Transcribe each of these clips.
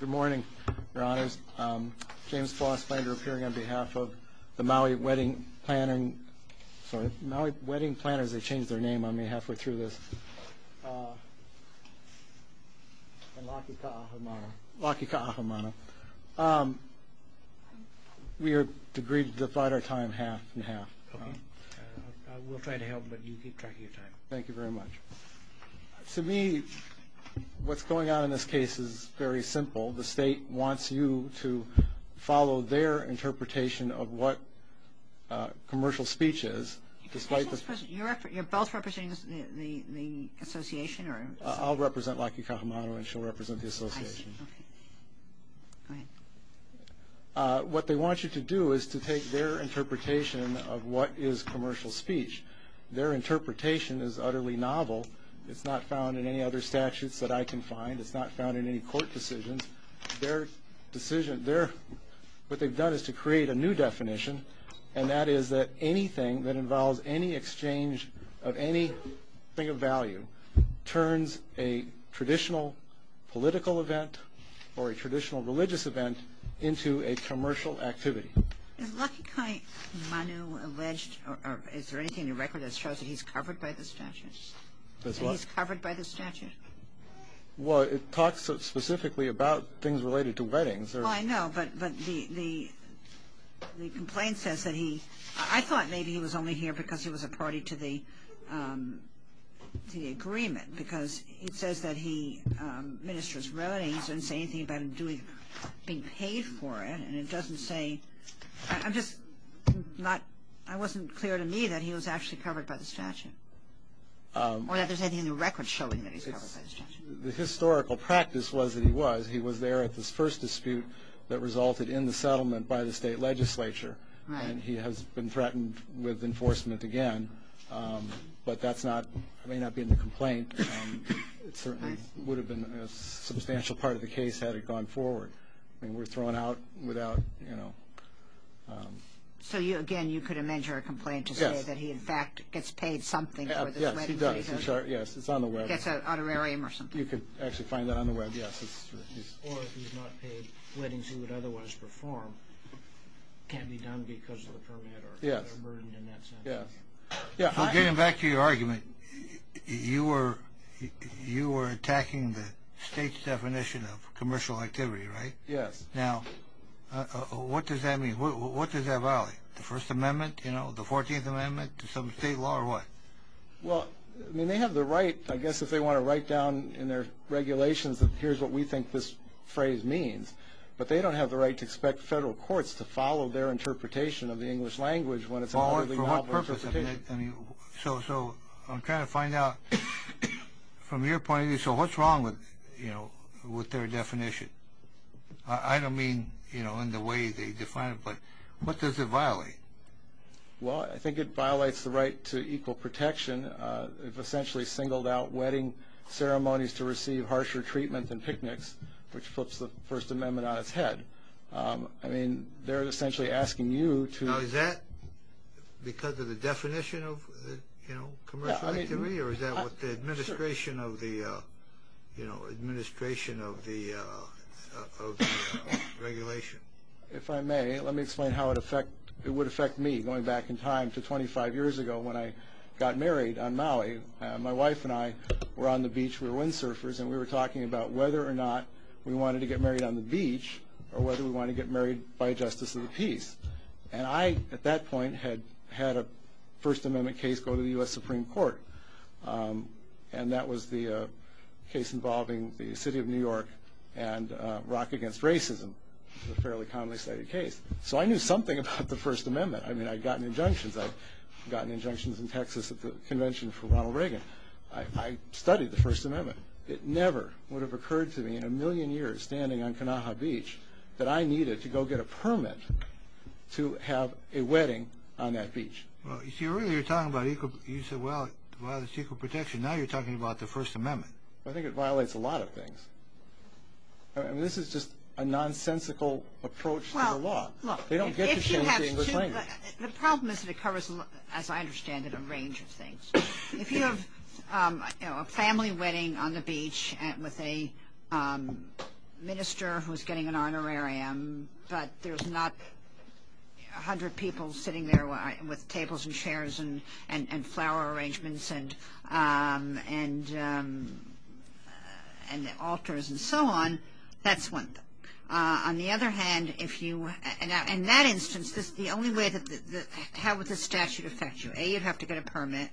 Good morning, Your Honors. James Floss Flander appearing on behalf of the Maui Wedding Planners. Sorry, Maui Wedding Planners, they changed their name on me halfway through this. And Laki Kaahumanu. Laki Kaahumanu. We are agreed to divide our time half and half. We'll try to help, but you keep track of your time. Thank you very much. To me, what's going on in this case is very simple. The state wants you to follow their interpretation of what commercial speech is. You're both representing the association? I'll represent Laki Kaahumanu and she'll represent the association. What they want you to do is to take their interpretation of what is commercial speech. Their interpretation is utterly novel. It's not found in any other statutes that I can find. It's not found in any court decisions. Their decision, what they've done is to create a new definition, and that is that anything that involves any exchange of any thing of value turns a traditional political event or a traditional religious event into a commercial activity. Is Laki Kaahumanu alleged, or is there anything in the record that shows that he's covered by the statute? That's what? That he's covered by the statute? Well, it talks specifically about things related to weddings. Well, I know, but the complaint says that he, I thought maybe he was only here because he was a party to the agreement, because it says that he ministers weddings and doesn't say anything about him being paid for it, and it doesn't say, I'm just not, it wasn't clear to me that he was actually covered by the statute, or that there's anything in the record showing that he's covered by the statute. The historical practice was that he was. He was there at this first dispute that resulted in the settlement by the state legislature, and he has been threatened with enforcement again, but that's not, it may not be in the complaint. It certainly would have been a substantial part of the case had it gone forward. I mean, we're throwing out without, you know. So, again, you could amend your complaint to say that he, in fact, gets paid something for this wedding. Yes, he does. Yes, it's on the web. It's an honorarium or something. You could actually find that on the web, yes. Or if he's not paid, weddings he would otherwise perform can be done because of the permit or burden in that sense. Yes. So getting back to your argument, you were attacking the state's definition of commercial activity, right? Yes. Now, what does that mean? What does that violate, the First Amendment, you know, the 14th Amendment, some state law or what? Well, I mean, they have the right, I guess if they want to write down in their regulations, here's what we think this phrase means, but they don't have the right to expect federal courts to follow their interpretation of the English language For what purpose? So I'm trying to find out from your point of view, so what's wrong with their definition? I don't mean, you know, in the way they define it, but what does it violate? Well, I think it violates the right to equal protection. They've essentially singled out wedding ceremonies to receive harsher treatment than picnics, which flips the First Amendment on its head. I mean, they're essentially asking you to Now, is that because of the definition of commercial activity, or is that what the administration of the regulation? If I may, let me explain how it would affect me going back in time to 25 years ago when I got married on Maui. My wife and I were on the beach, we were windsurfers, and we were talking about whether or not we wanted to get married on the beach or whether we wanted to get married by justice of the peace. And I, at that point, had had a First Amendment case go to the U.S. Supreme Court, and that was the case involving the city of New York and Rock Against Racism, a fairly commonly cited case. So I knew something about the First Amendment. I mean, I'd gotten injunctions. I'd gotten injunctions in Texas at the convention for Ronald Reagan. I studied the First Amendment. It never would have occurred to me in a million years standing on Kanaha Beach that I needed to go get a permit to have a wedding on that beach. Well, you see, earlier you were talking about equal protection. Now you're talking about the First Amendment. I think it violates a lot of things. I mean, this is just a nonsensical approach to the law. They don't get to change the English language. The problem is that it covers, as I understand it, a range of things. If you have a family wedding on the beach with a minister who's getting an honorarium, but there's not 100 people sitting there with tables and chairs and flower arrangements and altars and so on, that's one thing. On the other hand, if you – in that instance, the only way that – how would the statute affect you? A, you'd have to get a permit.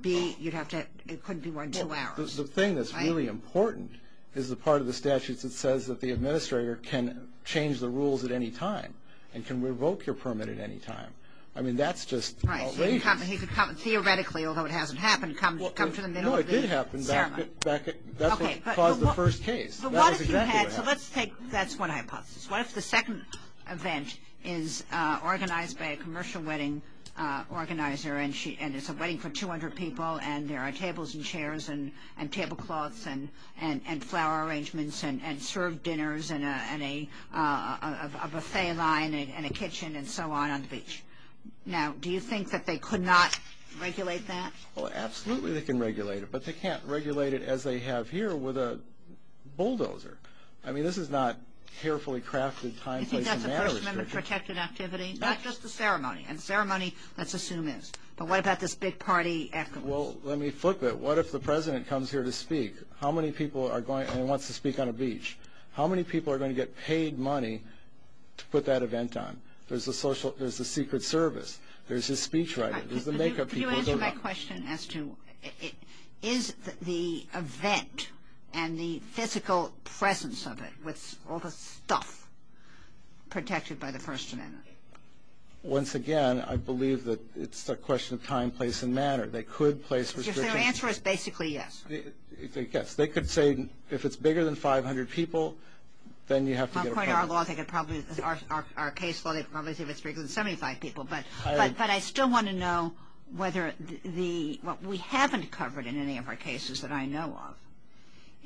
B, you'd have to – it couldn't be more than two hours. The thing that's really important is the part of the statutes that says that the administrator can change the rules at any time and can revoke your permit at any time. I mean, that's just outrageous. Right, he could come – theoretically, although it hasn't happened, come to the middle of the ceremony. No, it did happen back – that's what caused the first case. That was exactly what happened. But what if you had – so let's take – that's one hypothesis. What if the second event is organized by a commercial wedding organizer and it's a wedding for 200 people and there are tables and chairs and tablecloths and flower arrangements and served dinners and a buffet line and a kitchen and so on on the beach? Now, do you think that they could not regulate that? Well, absolutely they can regulate it, but they can't regulate it as they have here with a bulldozer. I mean, this is not carefully crafted time, place, and manner. Do you think that's a First Amendment-protected activity? Not just the ceremony. And ceremony, let's assume is. But what about this big party afterwards? Well, let me flip it. What if the president comes here to speak? How many people are going – and he wants to speak on a beach. How many people are going to get paid money to put that event on? There's the secret service. There's his speech writer. There's the makeup people. Could you answer my question as to is the event and the physical presence of it with all the stuff protected by the First Amendment? Once again, I believe that it's a question of time, place, and manner. They could place restrictions. So your answer is basically yes. Yes. They could say if it's bigger than 500 people, then you have to get a permit. According to our case law, they could probably say if it's bigger than 75 people. But I still want to know whether the – what we haven't covered in any of our cases that I know of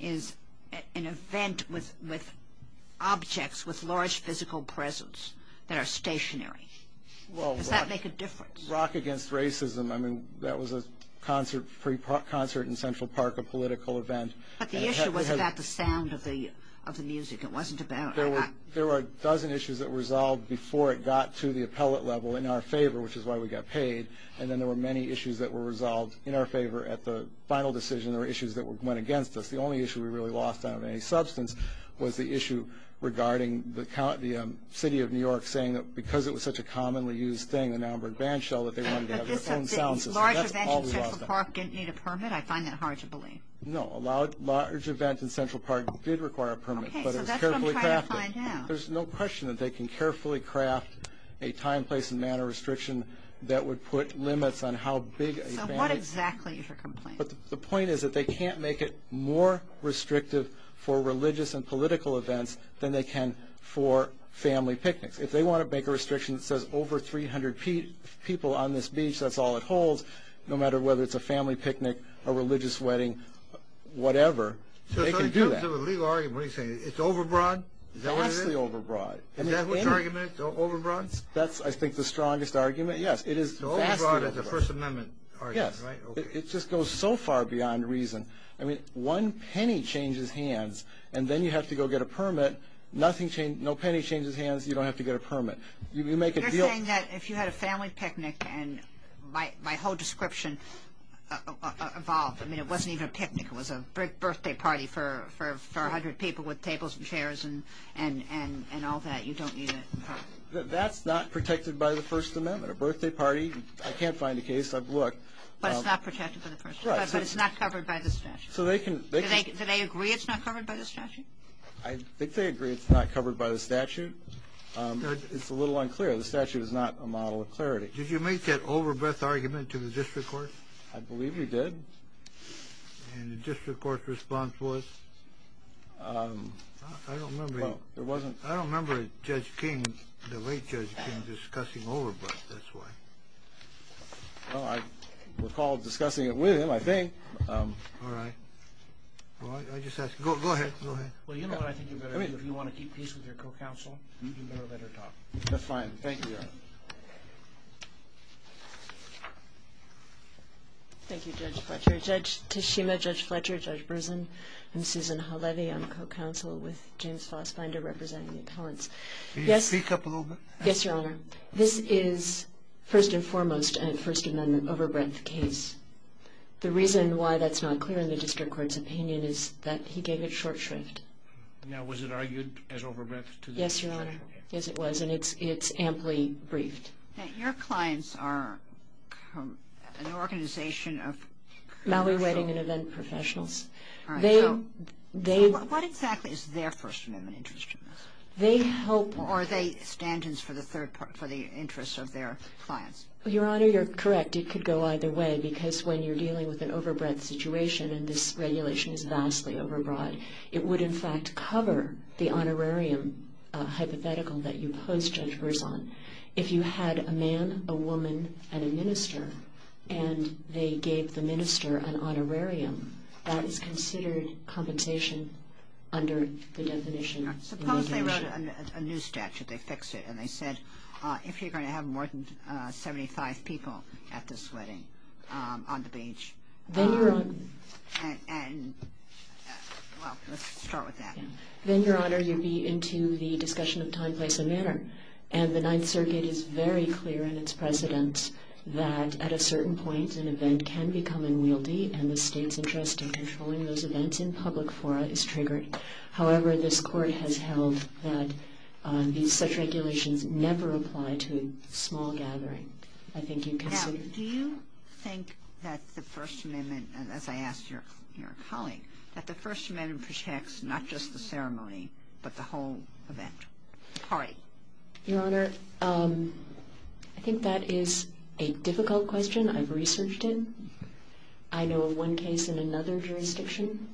is an event with objects with large physical presence that are stationary. Does that make a difference? Well, Rock Against Racism, I mean, that was a concert in Central Park, a political event. But the issue was about the sound of the music. It wasn't about – There were a dozen issues that were resolved before it got to the appellate level in our favor, which is why we got paid. And then there were many issues that were resolved in our favor at the final decision. There were issues that went against us. The only issue we really lost out of any substance was the issue regarding the city of New York saying that because it was such a commonly used thing, the Namburg Bandshell, that they wanted to have their own sound system. But this large event in Central Park didn't need a permit? I find that hard to believe. No, a large event in Central Park did require a permit. Okay, so that's what I'm trying to find out. But it was carefully crafted. There's no question that they can carefully craft a time, place, and manner restriction that would put limits on how big a family – So what exactly is your complaint? The point is that they can't make it more restrictive for religious and political events than they can for family picnics. If they want to make a restriction that says over 300 people on this beach, that's all it holds, no matter whether it's a family picnic, a religious wedding, whatever, they can do that. So in terms of a legal argument, what are you saying? It's overbroad? Vastly overbroad. Is that which argument, overbroad? That's, I think, the strongest argument, yes. It is vastly overbroad. So overbroad is a First Amendment argument, right? Yes. It just goes so far beyond reason. I mean, one penny changes hands, and then you have to go get a permit. No penny changes hands, you don't have to get a permit. You make a deal – You're saying that if you had a family picnic, and my whole description evolved. I mean, it wasn't even a picnic. It was a big birthday party for 100 people with tables and chairs and all that. You don't need a permit. That's not protected by the First Amendment. A birthday party, I can't find a case. I've looked. But it's not protected by the First Amendment? Right. But it's not covered by the statute? So they can – Do they agree it's not covered by the statute? I think they agree it's not covered by the statute. It's a little unclear. The statute is not a model of clarity. Did you make that overbreadth argument to the district court? I believe we did. And the district court's response was? I don't remember Judge King, the late Judge King, discussing overbreadth this way. Well, I recall discussing it with him, I think. All right. Go ahead. Well, you know what? I think you'd better – I mean – If you want to keep peace with your co-counsel, you'd better let her talk. That's fine. Thank you, Your Honor. Thank you, Judge Fletcher. Judge Tishima, Judge Fletcher, Judge Bresen, I'm Susan Halevy. I'm co-counsel with James Fassbinder representing the appellants. Can you speak up a little bit? Yes, Your Honor. This is, first and foremost, a First Amendment overbreadth case. The reason why that's not clear in the district court's opinion is that he gave it short shrift. Now, was it argued as overbreadth to the district court? Yes, Your Honor. Yes, it was. And it's amply briefed. Now, your clients are an organization of – Malware wedding and event professionals. All right. So what exactly is their First Amendment interest in this? They hope – Or are they stand-ins for the interest of their clients? Your Honor, you're correct. It could go either way because when you're dealing with an overbreadth situation and this regulation is vastly overbroad, it would, in fact, cover the honorarium hypothetical that you pose judge Bresen. If you had a man, a woman, and a minister, and they gave the minister an honorarium, that is considered compensation under the definition of obligation. Suppose they wrote a new statute. They fixed it, and they said, if you're going to have more than 75 people at this wedding on the beach, and – well, let's start with that. Then, Your Honor, you'd be into the discussion of time, place, and manner. And the Ninth Circuit is very clear in its precedence that at a certain point, an event can become unwieldy, and the state's interest in controlling those events in public fora is triggered. However, this Court has held that such regulations never apply to a small gathering. I think you'd consider – Now, do you think that the First Amendment – and as I asked your colleague – that the First Amendment protects not just the ceremony but the whole event? All right. Your Honor, I think that is a difficult question I've researched in. I know of one case in another jurisdiction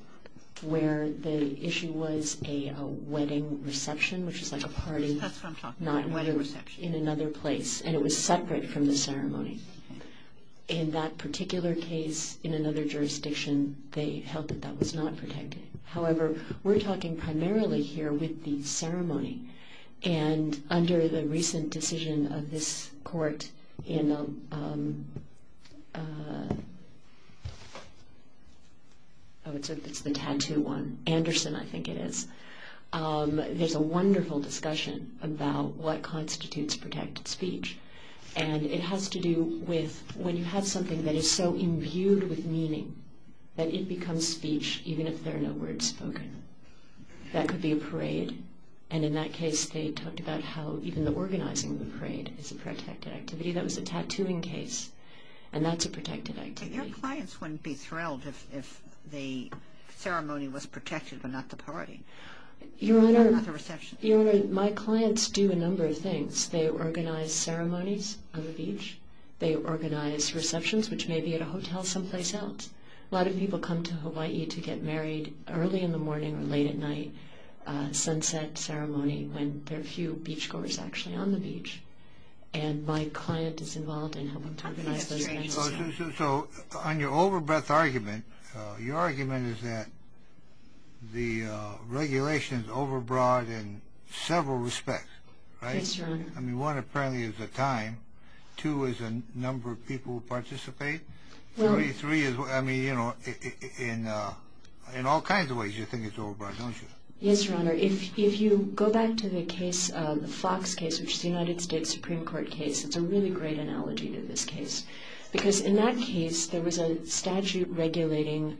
where the issue was a wedding reception, which is like a party – That's what I'm talking about, a wedding reception. – in another place, and it was separate from the ceremony. In that particular case in another jurisdiction, they held that that was not protected. However, we're talking primarily here with the ceremony, and under the recent decision of this Court in – Oh, it's the tattoo one. Anderson, I think it is. There's a wonderful discussion about what constitutes protected speech, and it has to do with when you have something that is so imbued with meaning that it becomes speech even if there are no words spoken. That could be a parade, and in that case, they talked about how even the organizing of the parade is a protected activity. That was a tattooing case, and that's a protected activity. Your clients wouldn't be thrilled if the ceremony was protected but not the party. Your Honor, my clients do a number of things. They organize ceremonies on the beach. They organize receptions, which may be at a hotel someplace else. A lot of people come to Hawaii to get married early in the morning or late at night, sunset ceremony when there are few beachgoers actually on the beach, and my client is involved in helping to organize those events. So on your overbreath argument, your argument is that the regulation is overbroad in several respects, right? Yes, Your Honor. I mean, one, apparently, is the time. Two is the number of people who participate. Three is, I mean, you know, in all kinds of ways you think it's overbroad, don't you? Yes, Your Honor. If you go back to the case, the Fox case, which is a United States Supreme Court case, it's a really great analogy to this case because in that case there was a statute regulating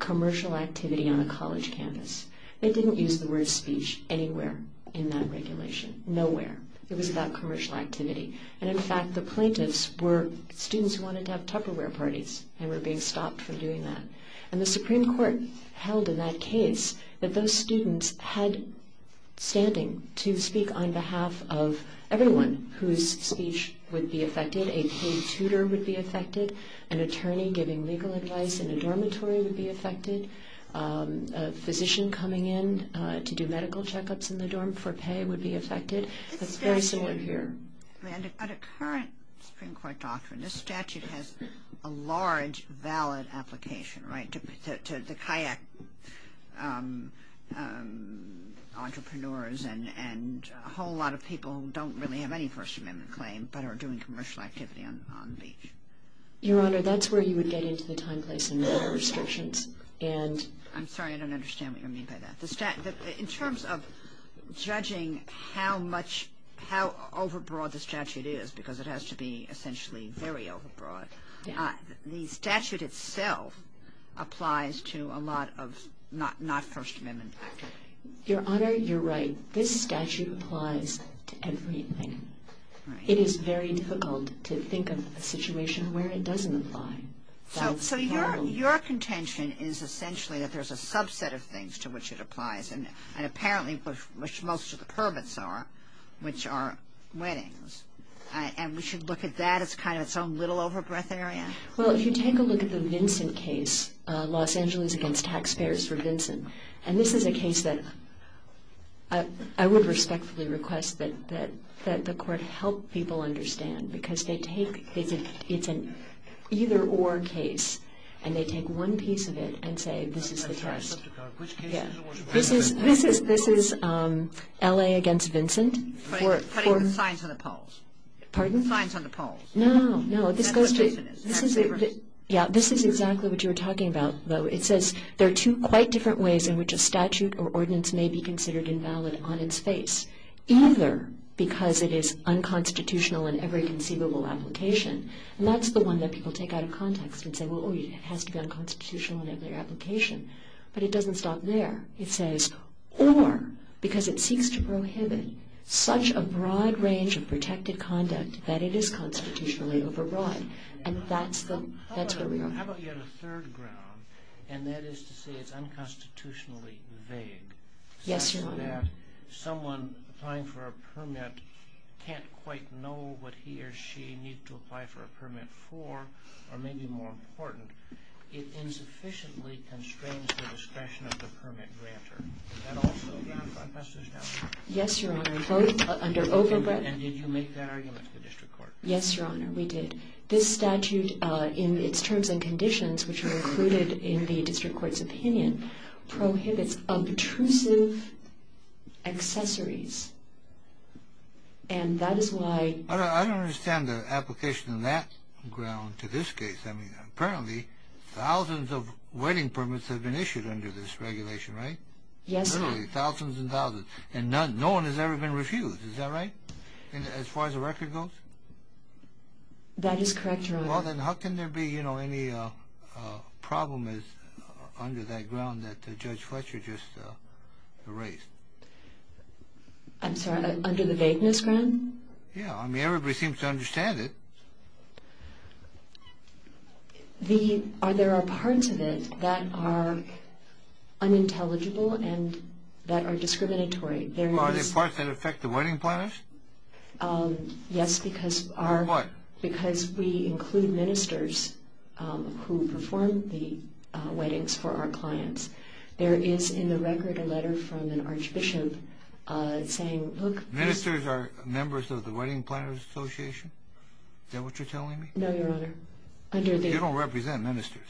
commercial activity on a college campus. They didn't use the word speech anywhere in that regulation, nowhere. It was about commercial activity. And in fact, the plaintiffs were students who wanted to have Tupperware parties and were being stopped from doing that. And the Supreme Court held in that case that those students had standing to speak on behalf of everyone whose speech would be affected. A paid tutor would be affected. An attorney giving legal advice in a dormitory would be affected. A physician coming in to do medical checkups in the dorm for pay would be affected. It's very similar here. But a current Supreme Court doctrine, this statute has a large valid application, right, to the kayak entrepreneurs and a whole lot of people who don't really have any First Amendment claim but are doing commercial activity on the beach. Your Honor, that's where you would get into the time, place, and manner restrictions. I'm sorry, I don't understand what you mean by that. In terms of judging how much, how overbroad the statute is, because it has to be essentially very overbroad, the statute itself applies to a lot of not First Amendment activity. Your Honor, you're right. This statute applies to everything. It is very difficult to think of a situation where it doesn't apply. So your contention is essentially that there's a subset of things to which it applies and apparently which most of the permits are, which are weddings, and we should look at that as kind of its own little overbreadth area? Well, if you take a look at the Vincent case, Los Angeles against taxpayers for Vincent, and this is a case that I would respectfully request that the court help people understand because they take, it's an either-or case, and they take one piece of it and say this is the test. Which case is it? This is L.A. against Vincent. Putting the signs on the poles. Pardon? The signs on the poles. No, no, this goes to, yeah, this is exactly what you were talking about. It says there are two quite different ways in which a statute or ordinance may be considered invalid on its face, either because it is unconstitutional in every conceivable application, and that's the one that people take out of context and say, well, it has to be unconstitutional in every application. But it doesn't stop there. It says, or because it seeks to prohibit such a broad range of protected conduct that it is constitutionally overbroad, and that's where we are. How about you had a third ground, and that is to say it's unconstitutionally vague. Yes, Your Honor. Someone applying for a permit can't quite know what he or she needs to apply for a permit for, or maybe more important, it insufficiently constrains the discretion of the permit grantor. Does that also amount to unconstitutionality? Yes, Your Honor. And did you make that argument to the district court? Yes, Your Honor, we did. This statute, in its terms and conditions, which were included in the district court's opinion, prohibits obtrusive accessories, and that is why... I don't understand the application on that ground to this case. Apparently thousands of wedding permits have been issued under this regulation, right? Yes, Your Honor. Literally thousands and thousands, and no one has ever been refused. Is that right, as far as the record goes? That is correct, Your Honor. Well, then how can there be, you know, any problem under that ground that Judge Fletcher just erased? I'm sorry, under the vagueness ground? Yeah, I mean, everybody seems to understand it. There are parts of it that are unintelligible and that are discriminatory. Are there parts that affect the wedding planners? Yes, because we include ministers who perform the weddings for our clients. There is, in the record, a letter from an archbishop saying, look... Ministers are members of the Wedding Planners Association? Is that what you're telling me? No, Your Honor. You don't represent ministers.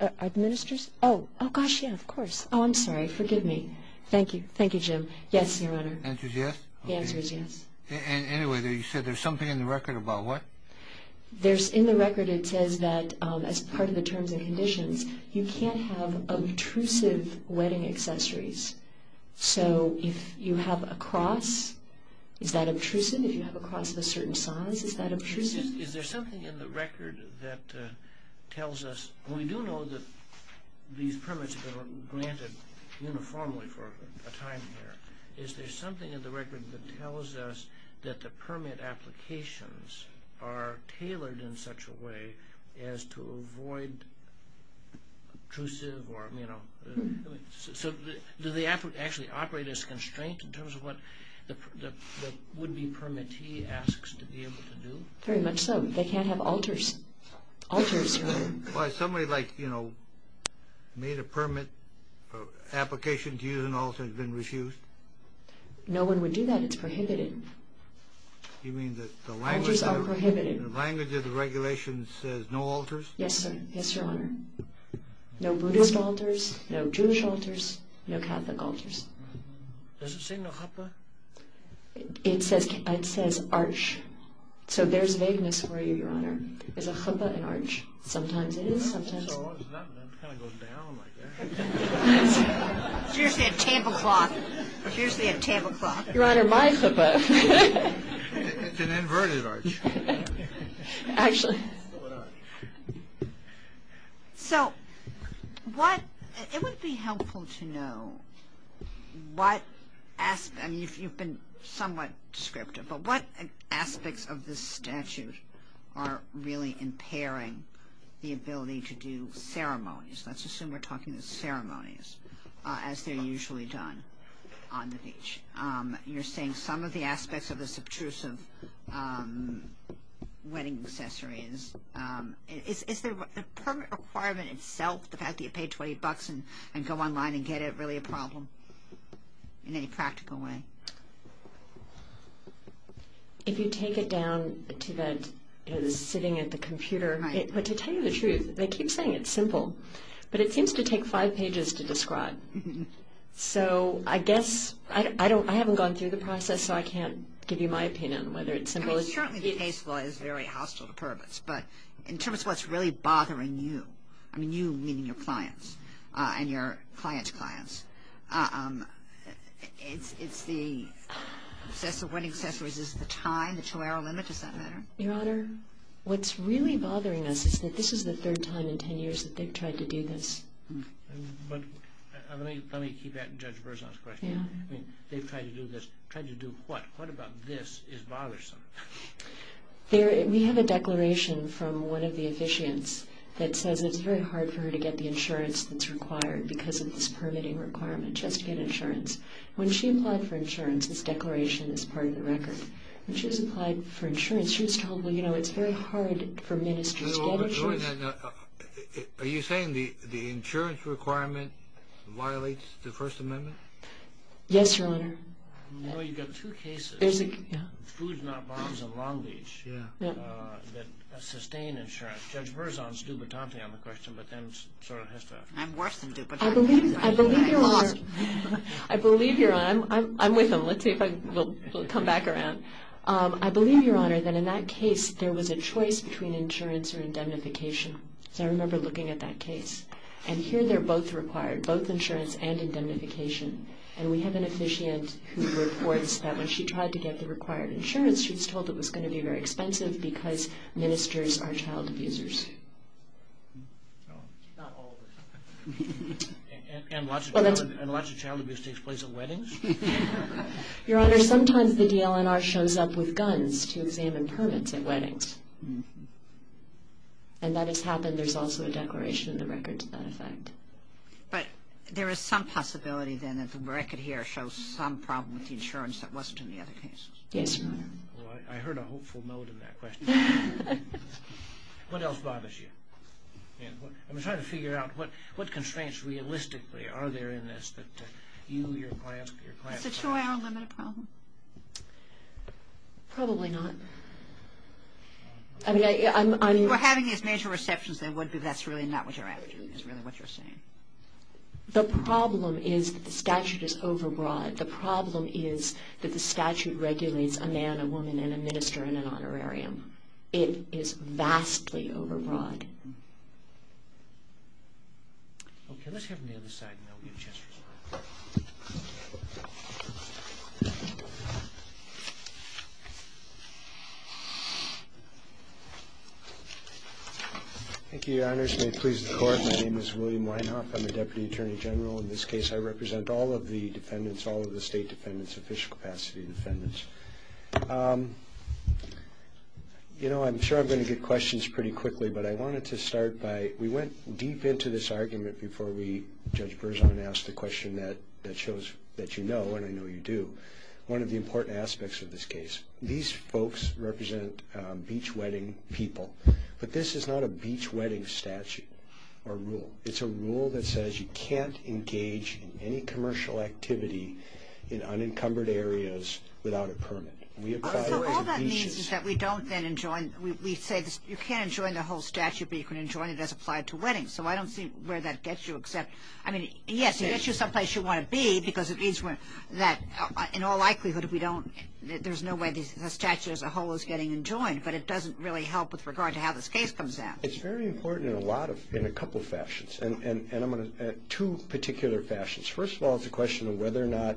Are ministers? Oh, gosh, yeah, of course. Oh, I'm sorry, forgive me. Thank you. Thank you, Jim. Yes, Your Honor. The answer is yes? The answer is yes. Anyway, you said there's something in the record about what? In the record it says that, as part of the terms and conditions, you can't have obtrusive wedding accessories. So if you have a cross, is that obtrusive? If you have a cross of a certain size, is that obtrusive? Is there something in the record that tells us... Is there something in the record that tells us that the permit applications are tailored in such a way as to avoid obtrusive or... So do they actually operate as a constraint in terms of what the would-be permittee asks to be able to do? Very much so. They can't have alters. Alters, Your Honor. Why, somebody, like, you know, made a permit application to use an alter and has been refused? No one would do that. It's prohibited. You mean that the language... Alters are prohibited.... the language of the regulations says no alters? Yes, sir. Yes, Your Honor. No Buddhist alters, no Jewish alters, no Catholic alters. Does it say Narapa? It says arch. So there's vagueness for you, Your Honor. Is a Chippa an arch? Sometimes it is, sometimes... So it's not... it kind of goes down like that. It's usually a tablecloth. It's usually a tablecloth. Your Honor, my Chippa... It's an inverted arch. Actually... So what... it would be helpful to know what... I mean, you've been somewhat descriptive, but what aspects of this statute are really impairing the ability to do ceremonies? Let's assume we're talking about ceremonies, as they're usually done on the beach. You're saying some of the aspects of the subtrusive wedding accessory is... Is the permit requirement itself, the fact that you pay $20 and go online and get it, really a problem in any practical way? If you take it down to the sitting at the computer... Right. But to tell you the truth, they keep saying it's simple, but it seems to take five pages to describe. So I guess... I haven't gone through the process, so I can't give you my opinion on whether it's simple. I mean, certainly the case law is very hostile to permits, but in terms of what's really bothering you... I mean, you, meaning your clients and your client's clients... It's the wedding accessories. Is it the time, the two-hour limit? Does that matter? Your Honor, what's really bothering us is that this is the third time in 10 years that they've tried to do this. But let me keep that in Judge Berzon's question. Yeah. I mean, they've tried to do this. Tried to do what? What about this is bothersome? We have a declaration from one of the officiants that says it's very hard for her to get the insurance that's required because of this permitting requirement. She has to get insurance. When she applied for insurance, this declaration is part of the record. When she was applied for insurance, she was told, well, you know, it's very hard for ministers to get insurance. Are you saying the insurance requirement violates the First Amendment? Yes, Your Honor. You know, you've got two cases, Foods Not Bombs and Long Beach, that sustain insurance. Judge Berzon's dubotante on the question, but then sort of has to... I'm worse than dubotante. I believe Your Honor... I'm with him. We'll come back around. I believe, Your Honor, that in that case, there was a choice between insurance or indemnification. I remember looking at that case. And here, they're both required, both insurance and indemnification. And we have an officiant who reports that when she tried to get the required insurance, she was told it was going to be very expensive because ministers are child abusers. Not all of us. And lots of child abuse takes place at weddings? Your Honor, sometimes the DLNR shows up with guns to examine permits at weddings. And that has happened. There's also a declaration in the record to that effect. But there is some possibility, then, that the record here shows some problem with the insurance that wasn't in the other cases. Yes, Your Honor. Well, I heard a hopeful note in that question. What else bothers you? I'm trying to figure out what constraints, realistically, are there in this that you, your client... Is the two-hour limit a problem? Probably not. I mean, I'm... If you were having these major receptions, then that's really not what you're after, is really what you're saying. The problem is that the statute is overbroad. The problem is that the statute regulates a man, a woman, and a minister in an honorarium. It is vastly overbroad. Okay. Let's have him on the other side and then we'll give a chance for questions. Thank you, Your Honors. May it please the Court, my name is William Weinhoff. I'm a Deputy Attorney General. In this case, I represent all of the defendants, all of the state defendants, official capacity defendants. You know, I'm sure I'm going to get questions pretty quickly, but I wanted to start by... We went deep into this argument before we, Judge Berzon, asked the question that shows that you know, and I know you do. One of the important aspects of this case... These folks represent beach wedding people, but this is not a beach wedding statute or rule. It's a rule that says you can't engage in any commercial activity in unencumbered areas without a permit. We apply... So, all that means is that we don't then enjoin... We say you can't enjoin the whole statute, but you can enjoin it as applied to weddings. So, I don't see where that gets you except... I mean, yes, it gets you someplace you want to be because it means that in all likelihood, if we don't... There's no way the statute as a whole is getting enjoined, but it doesn't really help with regard to how this case comes out. It's very important in a lot of... in a couple of fashions, and I'm going to... two particular fashions. First of all, it's a question of whether or not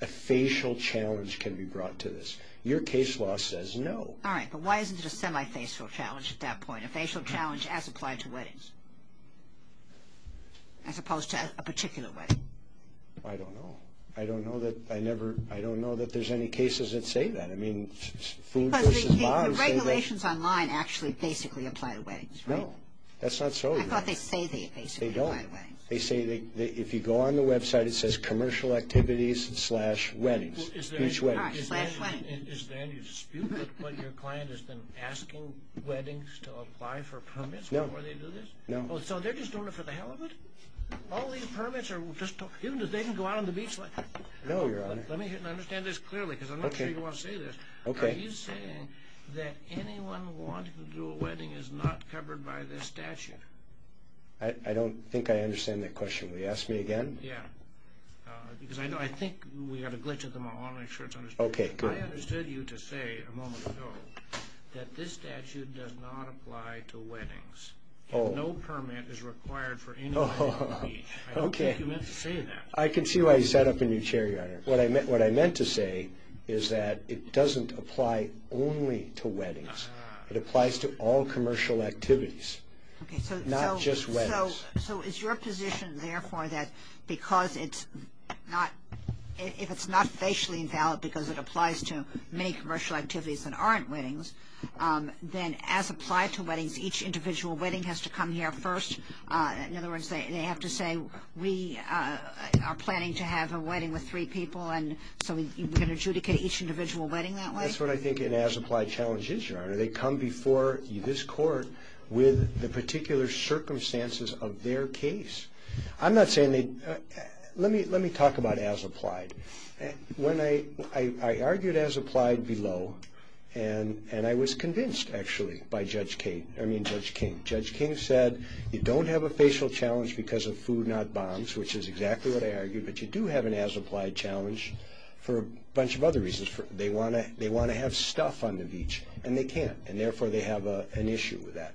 a facial challenge can be brought to this. Your case law says no. All right, but why isn't it a semi-facial challenge at that point? A facial challenge as applied to weddings, as opposed to a particular wedding? I don't know. I don't know that I never... I don't know that there's any cases that say that. I mean, food versus body... The regulations online actually basically apply to weddings, right? No, that's not so, Your Honor. I thought they say they basically apply to weddings. They don't. They say they... if you go on the website, it says commercial activities slash weddings, beach weddings. All right, slash weddings. Is there any dispute with what your client has been asking weddings to apply for permits before they do this? No. So, they're just doing it for the hell of it? All these permits are just... even if they can go out on the beach... No, Your Honor. Let me understand this clearly because I'm not sure you want to say this. Okay. Are you saying that anyone wanting to do a wedding is not covered by this statute? I don't think I understand that question. Will you ask me again? Yeah. Because I think we have a glitch at the moment. I want to make sure it's understood. Okay, good. I understood you to say a moment ago that this statute does not apply to weddings. Oh. No permit is required for anyone on the beach. Oh, okay. I don't think you meant to say that. I can see why you sat up in your chair, Your Honor. What I meant to say is that it doesn't apply only to weddings. It applies to all commercial activities, not just weddings. So, is your position, therefore, that because it's not... if it's not facially invalid because it applies to many commercial activities that aren't weddings, then as applied to weddings, each individual wedding has to come here first. In other words, they have to say, we are planning to have a wedding with three people, and so we're going to adjudicate each individual wedding that way? That's what I think an as applied challenge is, Your Honor. They come before this court with the particular circumstances of their case. I'm not saying they... Let me talk about as applied. When I argued as applied below, and I was convinced, actually, by Judge King. Judge King said, you don't have a facial challenge because of food, not bombs, which is exactly what I argued, but you do have an as applied challenge for a bunch of other reasons. They want to have stuff on the beach, and they can't, and therefore they have an issue with that.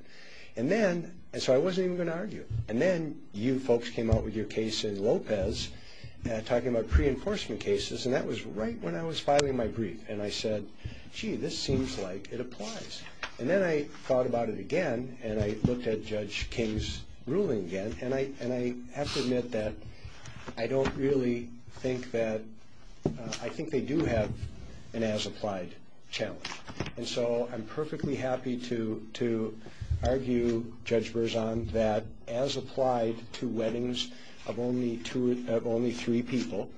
And then... And so I wasn't even going to argue. And then you folks came out with your case in Lopez, talking about pre-enforcement cases, and that was right when I was filing my brief, and I said, gee, this seems like it applies. And then I thought about it again, and I looked at Judge King's ruling again, and I have to admit that I don't really think that... I think they do have an as applied challenge. And so I'm perfectly happy to argue, Judge Berzon, that as applied to weddings of only three people,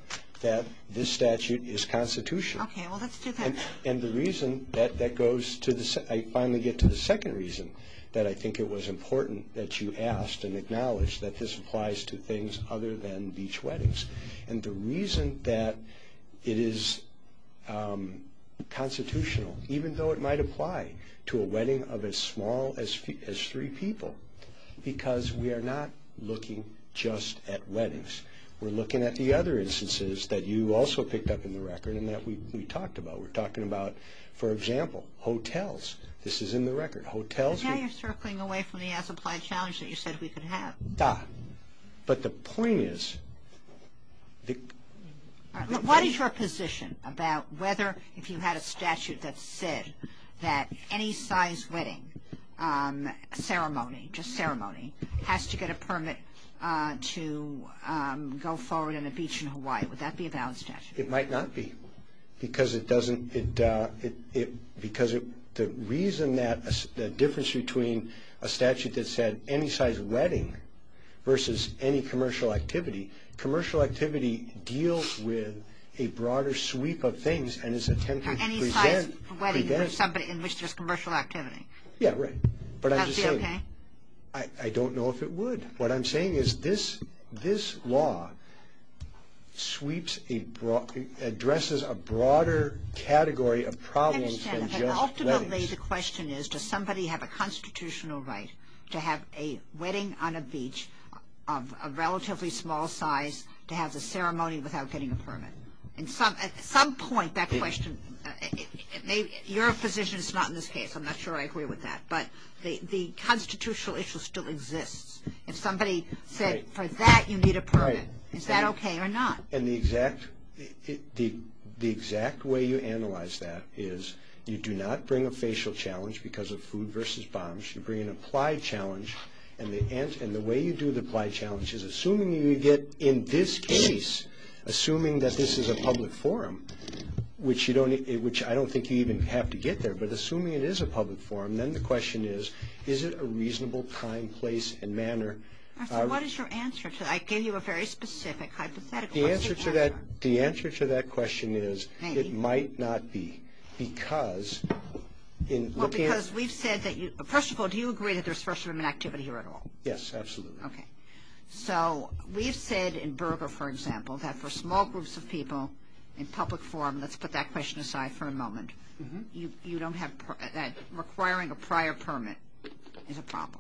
that this statute is constitutional. Okay, well, let's do that. And the reason that that goes to the... I finally get to the second reason that I think it was important that you asked and acknowledged that this applies to things other than beach weddings. And the reason that it is constitutional, even though it might apply to a wedding of as small as three people, because we are not looking just at weddings. We're looking at the other instances that you also picked up in the record and that we talked about. We're talking about, for example, hotels. This is in the record. Hotels... But now you're circling away from the as applied challenge that you said we could have. But the point is... What is your position about whether if you had a statute that said that any size wedding, a ceremony, just ceremony, has to get a permit to go forward on a beach in Hawaii? Would that be a valid statute? It might not be because it doesn't... because the reason that the difference between a statute that said any size wedding versus any commercial activity, commercial activity deals with a broader sweep of things and is intended to prevent... Any size wedding in which there's commercial activity. Yeah, right. That would be okay? I don't know if it would. But what I'm saying is this law sweeps a broad... addresses a broader category of problems than just weddings. I understand. And ultimately the question is, does somebody have a constitutional right to have a wedding on a beach of a relatively small size to have the ceremony without getting a permit? At some point that question... Your position is not in this case. I'm not sure I agree with that. But the constitutional issue still exists. If somebody said for that you need a permit, is that okay or not? And the exact way you analyze that is you do not bring a facial challenge because of food versus bombs. You bring an applied challenge. And the way you do the applied challenge is assuming you get in this case, assuming that this is a public forum, which I don't think you even have to get there, but assuming it is a public forum, then the question is, is it a reasonable time, place, and manner? What is your answer to that? I gave you a very specific hypothetical. The answer to that question is it might not be because... Well, because we've said that you... First of all, do you agree that there's freshman activity here at all? Yes, absolutely. Okay. So we've said in Berger, for example, that for small groups of people in public forum... Let's put that question aside for a moment. You don't have... requiring a prior permit is a problem.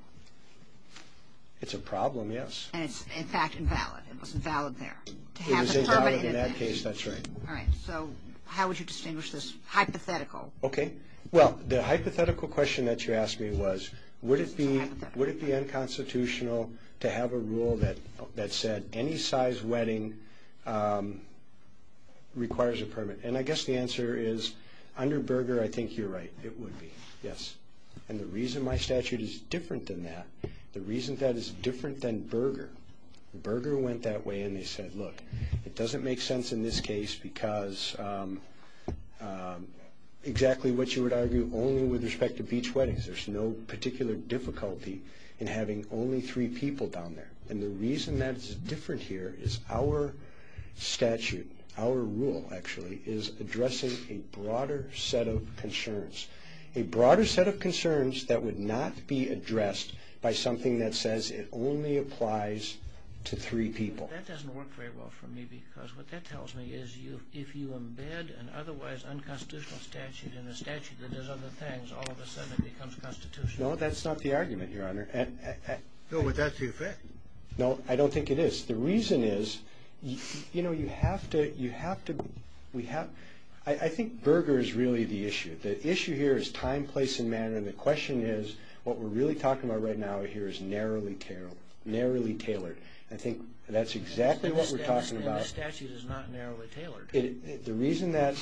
It's a problem, yes. And it's, in fact, invalid. It wasn't valid there. It was invalid in that case, that's right. All right. So how would you distinguish this hypothetical? Okay. Well, the hypothetical question that you asked me was would it be unconstitutional to have a rule that said any size wedding requires a permit? And I guess the answer is under Berger, I think you're right. It would be, yes. And the reason my statute is different than that, the reason that is different than Berger... Berger went that way and they said, look, it doesn't make sense in this case because... exactly what you would argue only with respect to beach weddings. There's no particular difficulty in having only three people down there. And the reason that is different here is our statute, our rule actually, is addressing a broader set of concerns. A broader set of concerns that would not be addressed by something that says it only applies to three people. That doesn't work very well for me because what that tells me is if you embed an otherwise unconstitutional statute in a statute that does other things, all of a sudden it becomes constitutional. No, that's not the argument, Your Honor. No, but that's the effect. No, I don't think it is. The reason is, you know, you have to... you have to... we have... I think Berger is really the issue. The issue here is time, place, and manner. And the question is what we're really talking about right now here is narrowly tailored. I think that's exactly what we're talking about. And the statute is not narrowly tailored. The reason that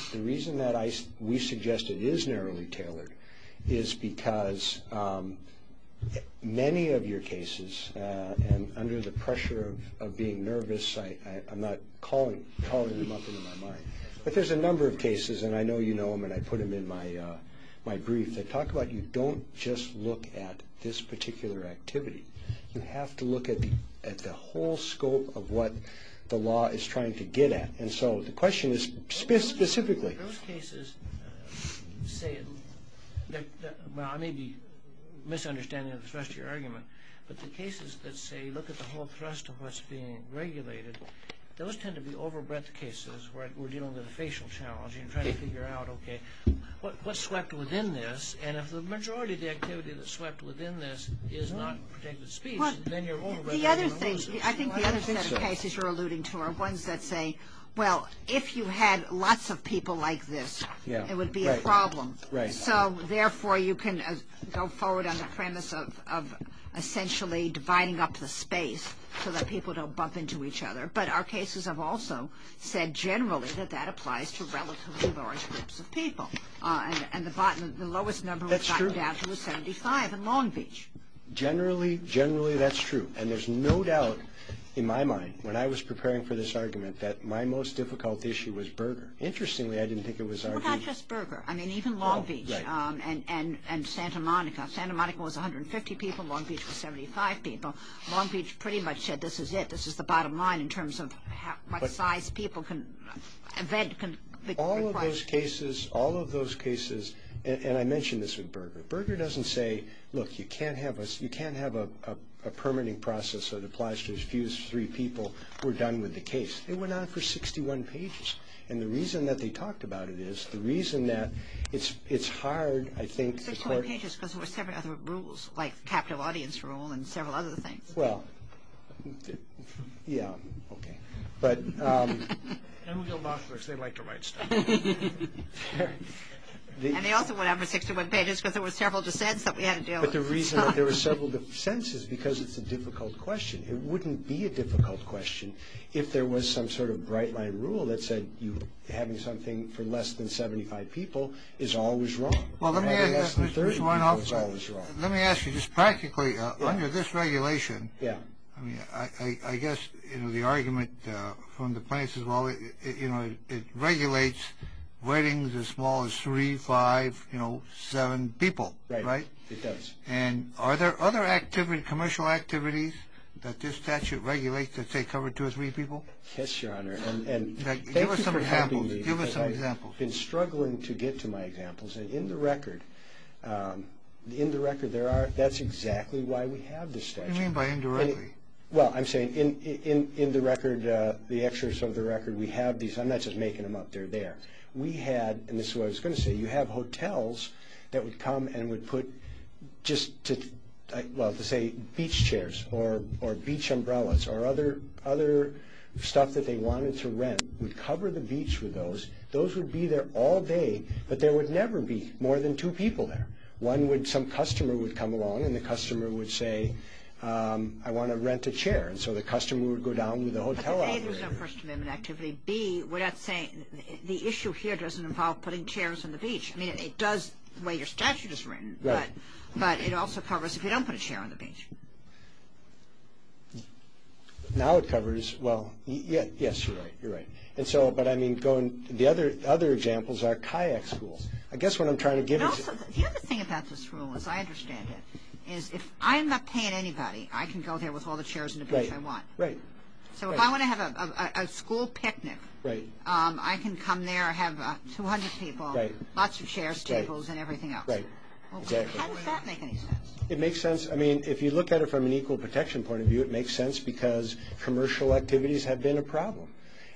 we suggest it is narrowly tailored is because many of your cases, and under the pressure of being nervous, I'm not calling them up into my mind. But there's a number of cases, and I know you know them, and I put them in my brief, that talk about you don't just look at this particular activity. You have to look at the whole scope of what the law is trying to get at. And so the question is specifically... Those cases say... well, I may be misunderstanding the thrust of your argument, but the cases that say look at the whole thrust of what's being regulated, those tend to be over-breadth cases where we're dealing with a facial challenge and trying to figure out, okay, what's swept within this? And if the majority of the activity that's swept within this is not protected speech, then you're over-breadth... I think the other set of cases you're alluding to are ones that say, well, if you had lots of people like this, it would be a problem. So, therefore, you can go forward on the premise of essentially dividing up the space so that people don't bump into each other. But our cases have also said generally that that applies to relatively large groups of people. And the lowest number we've gotten down to is 75 in Long Beach. Generally, generally that's true. And there's no doubt in my mind when I was preparing for this argument that my most difficult issue was Berger. Interestingly, I didn't think it was our... Well, not just Berger. I mean, even Long Beach and Santa Monica. Santa Monica was 150 people. Long Beach was 75 people. Long Beach pretty much said this is it. This is the bottom line in terms of what size people can... All of those cases, all of those cases... and I mentioned this with Berger. But Berger doesn't say, look, you can't have a permitting process that applies to as few as three people who are done with the case. They went on for 61 pages. And the reason that they talked about it is the reason that it's hard, I think... 61 pages because there were several other rules, like capital audience rule and several other things. Well, yeah, okay. But... And we'll go backwards. They like to write stuff. Fair. And they also went on for 61 pages because there were several dissents that we had to deal with. But the reason that there were several dissents is because it's a difficult question. It wouldn't be a difficult question if there was some sort of bright-line rule that said having something for less than 75 people is always wrong. Well, let me ask you just practically, under this regulation... Yeah. I mean, I guess, you know, the argument from the plaintiffs is, well, you know, it regulates weddings as small as three, five, you know, seven people. Right. It does. And are there other activities, commercial activities that this statute regulates that say cover two or three people? Yes, Your Honor. And... Give us some examples. Give us some examples. I've been struggling to get to my examples. And in the record, there are... that's exactly why we have this statute. What do you mean by indirectly? Well, I'm saying in the record, the extras of the record, we have these. I'm not just making them up. They're there. We had, and this is what I was going to say, you have hotels that would come and would put just to, well, to say beach chairs or beach umbrellas or other stuff that they wanted to rent would cover the beach with those. Those would be there all day, but there would never be more than two people there. One would, some customer would come along, and the customer would say, I want to rent a chair. And so the customer would go down with the hotel operator. A, there's no First Amendment activity. B, we're not saying, the issue here doesn't involve putting chairs on the beach. I mean, it does the way your statute is written. Right. But it also covers if you don't put a chair on the beach. Now it covers, well, yes, you're right. You're right. And so, but I mean, the other examples are kayak school. I guess what I'm trying to give is... The other thing about this rule, as I understand it, is if I'm not paying anybody, I can go there with all the chairs on the beach I want. Right. So if I want to have a school picnic, I can come there, have 200 people, lots of chairs, tables, and everything else. Right. How does that make any sense? It makes sense. I mean, if you look at it from an equal protection point of view, it makes sense because commercial activities have been a problem.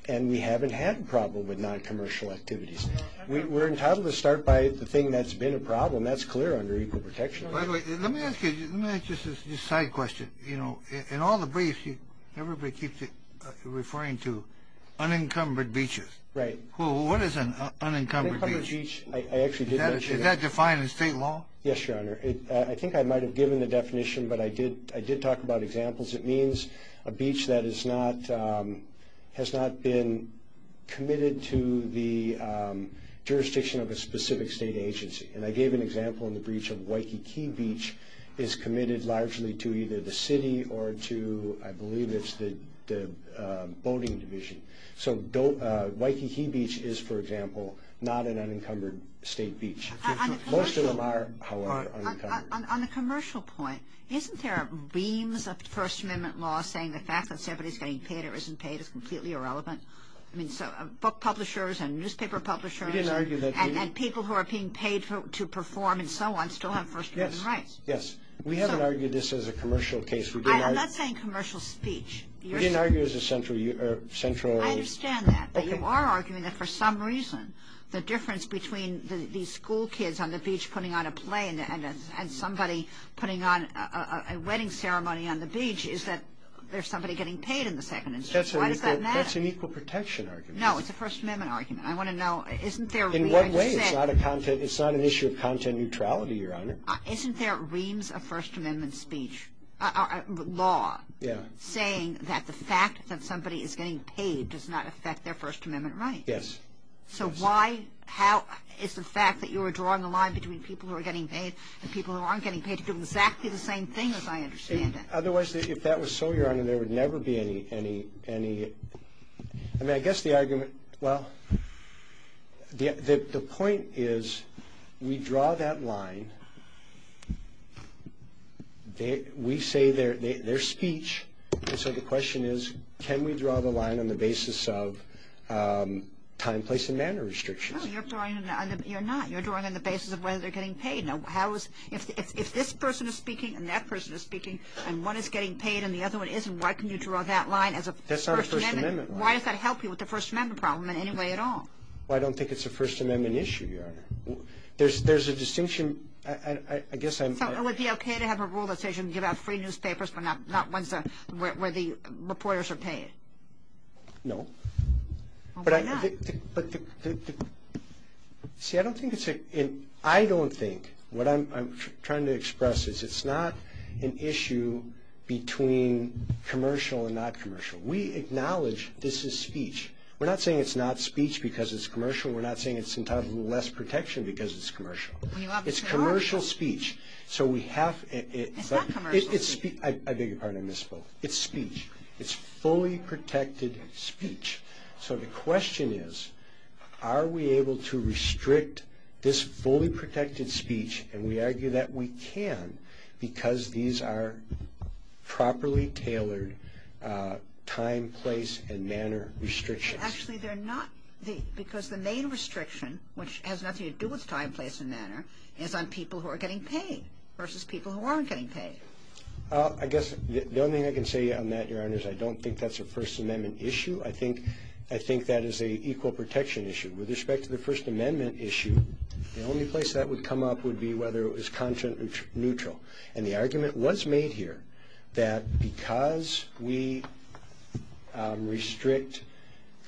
And we haven't had a problem with non-commercial activities. We're entitled to start by the thing that's been a problem. That's clear under equal protection. By the way, let me ask you just a side question. You know, in all the briefs, everybody keeps referring to unencumbered beaches. Well, what is an unencumbered beach? Is that defined in state law? Yes, Your Honor. I think I might have given the definition, but I did talk about examples. It means a beach that has not been committed to the jurisdiction of a specific state agency. And I gave an example in the breach of Waikiki Beach is committed largely to either the city or to, I believe it's the boating division. So Waikiki Beach is, for example, not an unencumbered state beach. On a commercial point, isn't there beams of First Amendment law saying the fact that somebody is getting paid or isn't paid is completely irrelevant? I mean, book publishers and newspaper publishers and people who are being paid to perform and so on still have First Amendment rights. Yes, yes. We haven't argued this as a commercial case. I'm not saying commercial speech. We didn't argue it as a central... I understand that. But you are arguing that for some reason the difference between these school kids on the beach putting on a play and somebody putting on a wedding ceremony on the beach is that there's somebody getting paid in the second instance. Why does that matter? That's an equal protection argument. No, it's a First Amendment argument. I want to know, isn't there... In what way? It's not an issue of content neutrality, Your Honor. Isn't there reams of First Amendment speech...law... Yeah. ...saying that the fact that somebody is getting paid does not affect their First Amendment rights? Yes. So why...how...is the fact that you are drawing a line between people who are getting paid and people who aren't getting paid to do exactly the same thing as I understand it? Otherwise, if that was so, Your Honor, there would never be any...I mean, I guess the argument...well, the point is we draw that line. We say their speech. And so the question is can we draw the line on the basis of time, place, and manner restrictions? No, you're drawing on the...you're not. You're drawing on the basis of whether they're getting paid. If this person is speaking and that person is speaking and one is getting paid and the other one isn't, why can you draw that line as a First Amendment... That's not a First Amendment line. ...why does that help you with the First Amendment problem in any way at all? Well, I don't think it's a First Amendment issue, Your Honor. There's a distinction. I guess I'm... So it would be okay to have a rule that says you can give out free newspapers but not ones where the reporters are paid? No. Well, why not? But the...see, I don't think it's a...I don't think...what I'm trying to express is it's not an issue between commercial and not commercial. We acknowledge this is speech. We're not saying it's not speech because it's commercial. We're not saying it's entitled to less protection because it's commercial. It's commercial speech. So we have... It's not commercial speech. I beg your pardon. I misspoke. It's speech. It's fully protected speech. So the question is, are we able to restrict this fully protected speech? And we argue that we can because these are properly tailored time, place, and manner restrictions. Actually, they're not. Because the main restriction, which has nothing to do with time, place, and manner, is on people who are getting paid versus people who aren't getting paid. I guess the only thing I can say on that, Your Honor, is I don't think that's a First Amendment issue. I think that is an equal protection issue. With respect to the First Amendment issue, the only place that would come up would be whether it was content neutral. And the argument was made here that because we restrict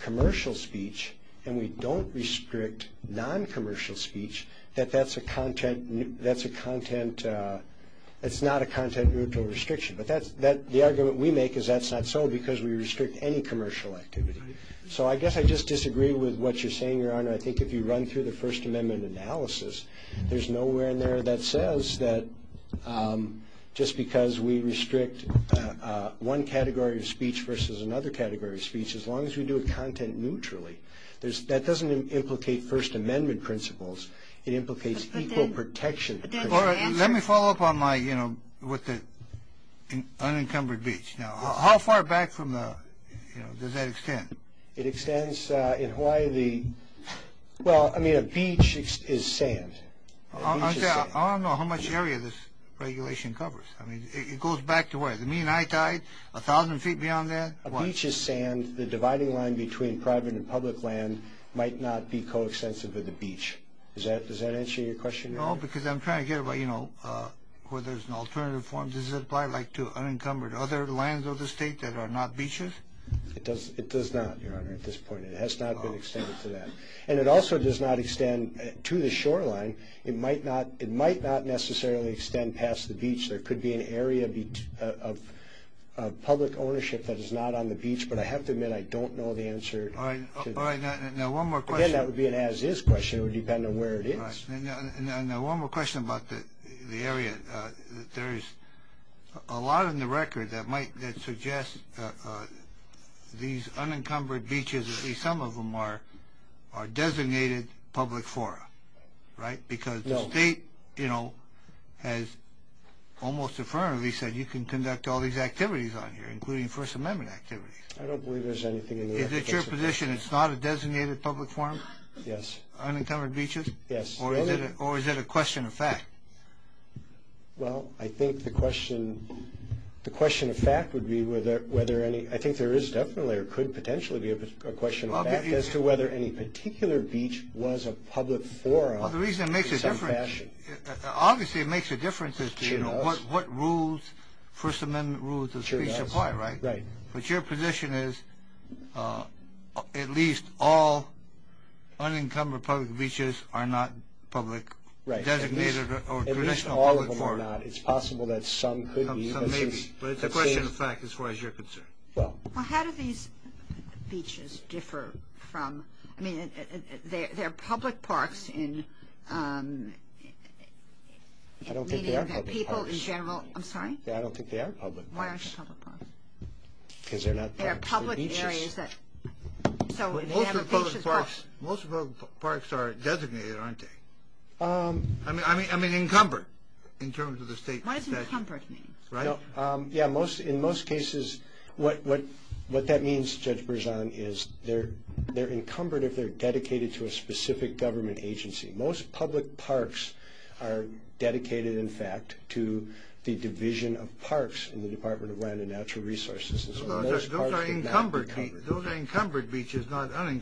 commercial speech and we don't restrict non-commercial speech, that that's a content...that's not a content neutral restriction. But the argument we make is that's not so because we restrict any commercial activity. So I guess I just disagree with what you're saying, Your Honor. I think if you run through the First Amendment analysis, there's nowhere in there that says that just because we restrict one category of speech versus another category of speech, as long as we do it content neutrally, that doesn't implicate First Amendment principles. It implicates equal protection. Let me follow up on my...with the unencumbered beach. Now, how far back from the...does that extend? It extends...in Hawaii, the...well, I mean, a beach is sand. I don't know how much area this regulation covers. I mean, it goes back to where? The mean high tide? A thousand feet beyond that? A beach is sand. The dividing line between private and public land might not be coextensive with a beach. Does that answer your question, Your Honor? No, because I'm trying to get where, you know, where there's an alternative form. Does it apply, like, to unencumbered other lands of the state that are not beaches? It does not, Your Honor, at this point. It has not been extended to that. And it also does not extend to the shoreline. It might not necessarily extend past the beach. There could be an area of public ownership that is not on the beach, but I have to admit I don't know the answer. All right, now one more question. Again, that would be an as-is question. It would depend on where it is. All right, now one more question about the area. There is a lot in the record that might suggest these unencumbered beaches, at least some of them, are designated public fora, right? Because the state, you know, has almost affirmatively said you can conduct all these activities on here, including First Amendment activities. I don't believe there's anything in the record that says that. Is it your position it's not a designated public forum? Yes. Unencumbered beaches? Yes. Or is it a question of fact? Well, I think the question of fact would be whether any ‑‑ I think there is definitely or could potentially be a question of fact as to whether any particular beach was a public forum in some fashion. Well, the reason it makes a difference, obviously it makes a difference as to, you know, what rules First Amendment rules of speech apply, right? Right. But your position is at least all unencumbered public beaches are not public designated or traditional public forum. At least all of them are not. It's possible that some could be. Some may be. But it's a question of fact as far as you're concerned. Well. Well, how do these beaches differ from, I mean, they're public parks in meaning that people in general. I don't think they are public parks. I'm sorry? I don't think they are public. Why aren't they public parks? Because they're not. They're public areas that. Most of the public parks are designated, aren't they? I mean, encumbered in terms of the state. What does encumbered mean? Right? Yeah, in most cases what that means, Judge Berzon, is they're encumbered if they're dedicated to a specific government agency. Most public parks are dedicated, in fact, to the division of parks in the Department of Land and Natural Resources. Those are encumbered beaches, not unencumbered beaches.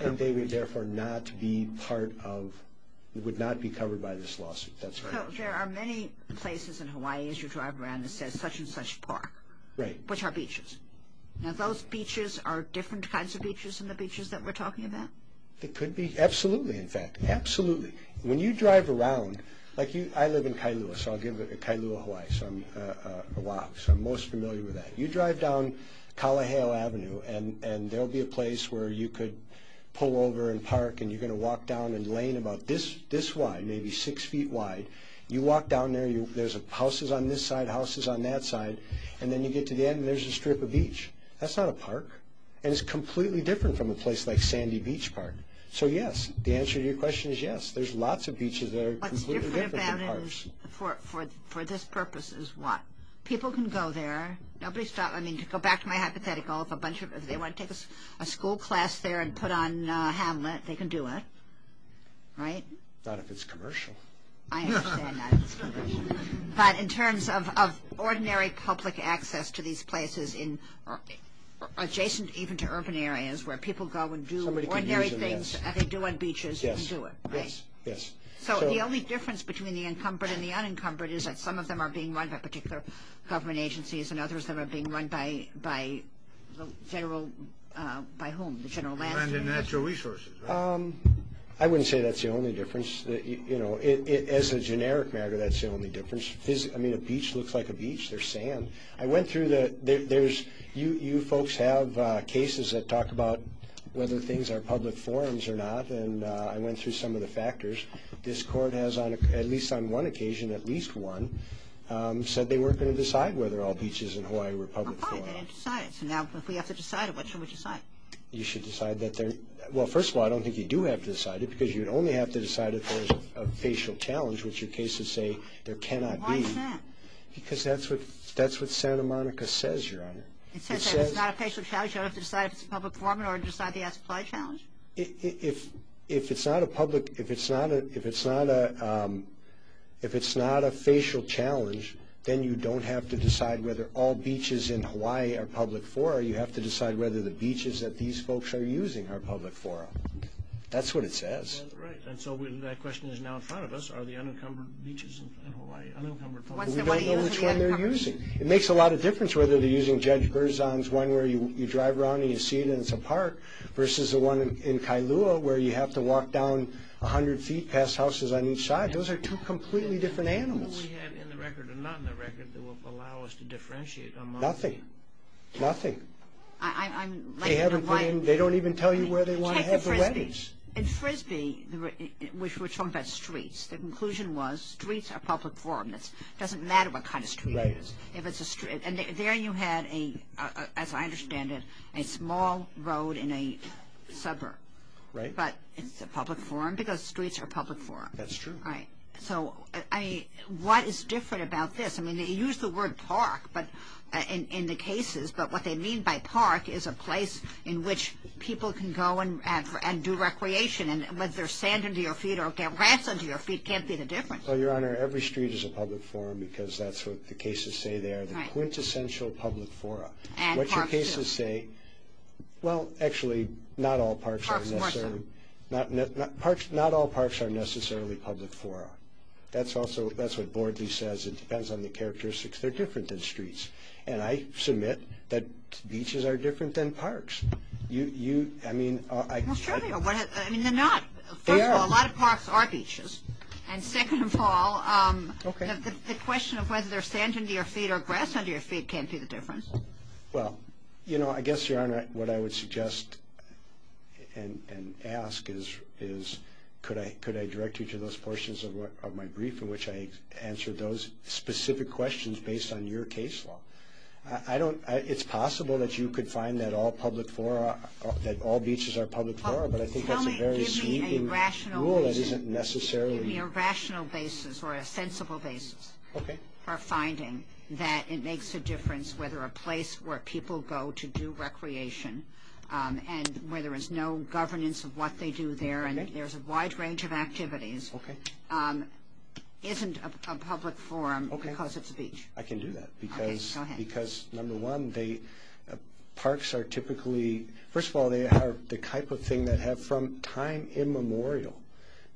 And they would therefore not be part of, would not be covered by this lawsuit. That's right. There are many places in Hawaii, as you drive around, that says such and such park. Right. Which are beaches. Now, those beaches are different kinds of beaches than the beaches that we're talking about? They could be. Absolutely, in fact. Absolutely. When you drive around, like I live in Kailua, so I'll give Kailua, Hawaii, a walk, so I'm most familiar with that. You drive down Kalaheo Avenue and there will be a place where you could pull over and park and you're going to walk down a lane about this wide, maybe six feet wide. You walk down there, there's houses on this side, houses on that side, and then you get to the end and there's a strip of beach. That's not a park. And it's completely different from a place like Sandy Beach Park. So, yes. The answer to your question is yes. There's lots of beaches that are completely different than parks. What's different about it for this purpose is what? People can go there. Nobody's stopping. I mean, to go back to my hypothetical, if they want to take a school class there and put on Hamlet, they can do it. Right? Not if it's commercial. I understand that it's commercial. But in terms of ordinary public access to these places adjacent even to urban areas where people go and do ordinary things that they do on beaches and do it, right? Yes. So, the only difference between the encumbered and the unencumbered is that some of them are being run by particular government agencies and others of them are being run by the general, by whom? The general landscape. Land and natural resources. I wouldn't say that's the only difference. You know, as a generic matter, that's the only difference. I mean, a beach looks like a beach. There's sand. You folks have cases that talk about whether things are public forums or not, and I went through some of the factors. This court has, at least on one occasion, at least one, said they weren't going to decide whether all beaches in Hawaii were public forums. Fine. They didn't decide it. So, now, if we have to decide it, what should we decide? You should decide that they're – well, first of all, I don't think you do have to decide it because you'd only have to decide if there's a facial challenge, which your cases say there cannot be. Why is that? Because that's what Santa Monica says, Your Honor. It says if it's not a facial challenge, you don't have to decide if it's a public forum in order to decide if it's a public challenge? If it's not a public – if it's not a – if it's not a – if it's not a facial challenge, then you don't have to decide whether all beaches in Hawaii are public fora. You have to decide whether the beaches that these folks are using are public fora. That's what it says. Right, and so that question is now in front of us. Are the unencumbered beaches in Hawaii unencumbered? We don't know which one they're using. It makes a lot of difference whether they're using Judge Berzon's, one where you drive around and you see it and it's a park, versus the one in Kailua where you have to walk down 100 feet past houses on each side. Those are two completely different animals. Do we have in the record or not in the record that will allow us to differentiate among them? Nothing. Nothing. I'm – They haven't put in – they don't even tell you where they want to have the weddings. In Frisbee, which we're talking about streets, the conclusion was streets are public forum. It doesn't matter what kind of street it is. If it's a street – and there you had, as I understand it, a small road in a suburb. Right. But it's a public forum because streets are public forum. That's true. Right. So, I mean, what is different about this? I mean, they use the word park in the cases, but what they mean by park is a place in which people can go and do recreation, and whether there's sand under your feet or rats under your feet can't be the difference. Well, Your Honor, every street is a public forum because that's what the cases say. Right. They are the quintessential public forum. And parks too. What your cases say – well, actually, not all parks are necessarily – Parks more so. Not all parks are necessarily public forum. That's also – that's what Bordley says. It depends on the characteristics. They're different than streets. And I submit that beaches are different than parks. You – I mean – Well, sure they are. I mean, they're not. First of all, a lot of parks are beaches. And second of all, the question of whether there's sand under your feet or grass under your feet can't be the difference. Well, you know, I guess, Your Honor, what I would suggest and ask is could I direct you to those portions of my brief in which I answer those specific questions based on your case law. I don't – it's possible that you could find that all public forum – that all beaches are public forum, but I think that's a very sweeping rule that isn't necessarily – Give me a rational basis or a sensible basis for finding that it makes a difference whether a place where people go to do recreation and where there is no governance of what they do there and there's a wide range of activities isn't a public forum because it's a beach. Okay. I can do that because – Okay. Go ahead. First of all, they are the type of thing that have from time immemorial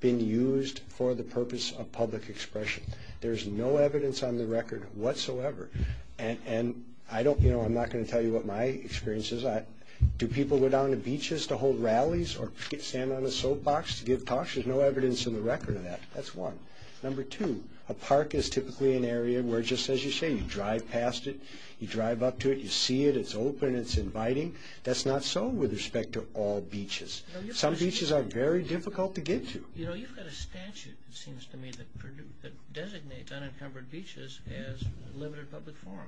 been used for the purpose of public expression. There's no evidence on the record whatsoever. And I don't – you know, I'm not going to tell you what my experience is. Do people go down to beaches to hold rallies or get sand on a soapbox to give talks? There's no evidence in the record of that. That's one. Number two, a park is typically an area where, just as you say, you drive past it, you drive up to it, you see it, it's open, it's inviting. That's not so with respect to all beaches. Some beaches are very difficult to get to. You know, you've got a statute, it seems to me, that designates unencumbered beaches as limited public forum.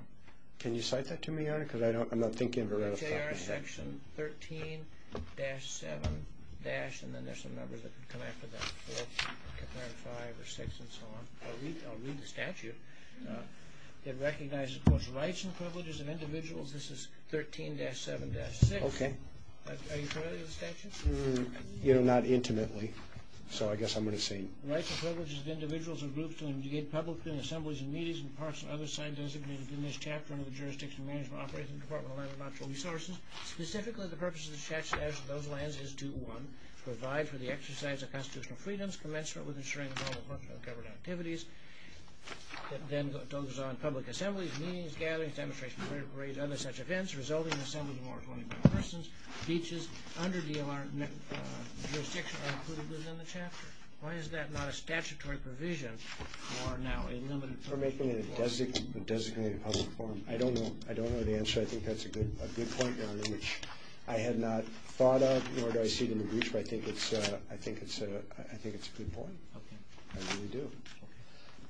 Can you cite that to me, Your Honor, because I'm not thinking of a ratified one. J.R. Section 13-7- and then there's some numbers that come after that, 4, 5, or 6, and so on. I'll read the statute. It recognizes, of course, rights and privileges of individuals. This is 13-7-6. Okay. Are you familiar with the statute? You know, not intimately, so I guess I'm going to say. Rights and privileges of individuals and groups to engage publicly in assemblies and meetings and parks and other signs designated within this chapter under the Jurisdiction and Management Operating Department of the Land and Natural Resources. Specifically, the purpose of the statute as to those lands is to, one, provide for the exercise of constitutional freedoms commensurate with ensuring the proper function of government activities. It then goes on, public assemblies, meetings, gatherings, demonstrations, parade and other such events, resulting in assemblies of more than 25 persons. Beaches under the jurisdiction are included within the chapter. Why is that not a statutory provision for now a limited public forum? For making it a designated public forum. I don't know. I don't know the answer. I think that's a good point, Your Honor, which I had not thought of, nor do I see it in the brief, but I think it's a good point. I really do.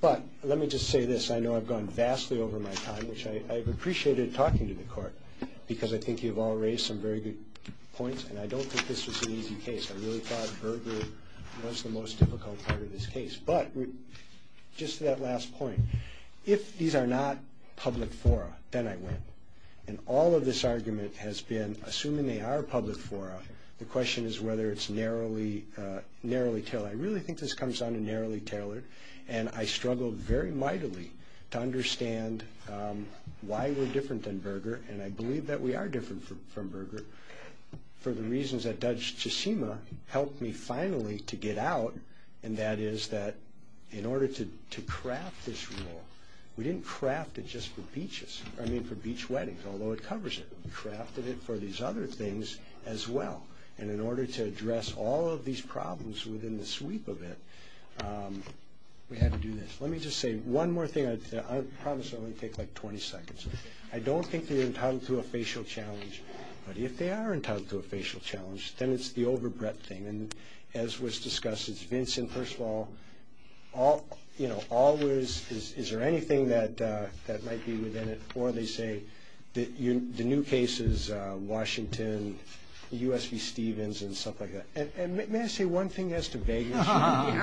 But let me just say this. I know I've gone vastly over my time, which I appreciated talking to the Court, because I think you've all raised some very good points, and I don't think this was an easy case. I really thought Berger was the most difficult part of this case. But just to that last point, if these are not public fora, then I win. And all of this argument has been, assuming they are public fora, the question is whether it's narrowly tailored. I really think this comes down to narrowly tailored, and I struggled very mightily to understand why we're different than Berger, and I believe that we are different from Berger, for the reasons that Judge Chisima helped me finally to get out, and that is that in order to craft this rule, we didn't craft it just for beaches, I mean for beach weddings, although it covers it. We crafted it for these other things as well, and in order to address all of these problems within the sweep of it, we had to do this. Let me just say one more thing. I promise it will only take like 20 seconds. I don't think they're entitled to a facial challenge, but if they are entitled to a facial challenge, then it's the overbred thing. As was discussed, it's Vincent, first of all, always is there anything that might be within it, or they say the new case is Washington, U.S. v. Stevens, and stuff like that. May I say one thing as to vagueness? One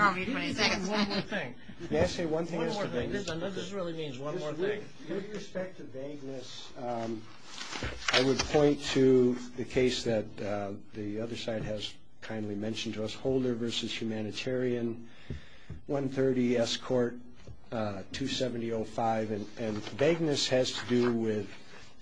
more thing. May I say one thing as to vagueness? This really means one more thing. With respect to vagueness, I would point to the case that the other side has kindly mentioned to us, Holder v. Humanitarian, 130 S. Court, 270.05, and vagueness has to do with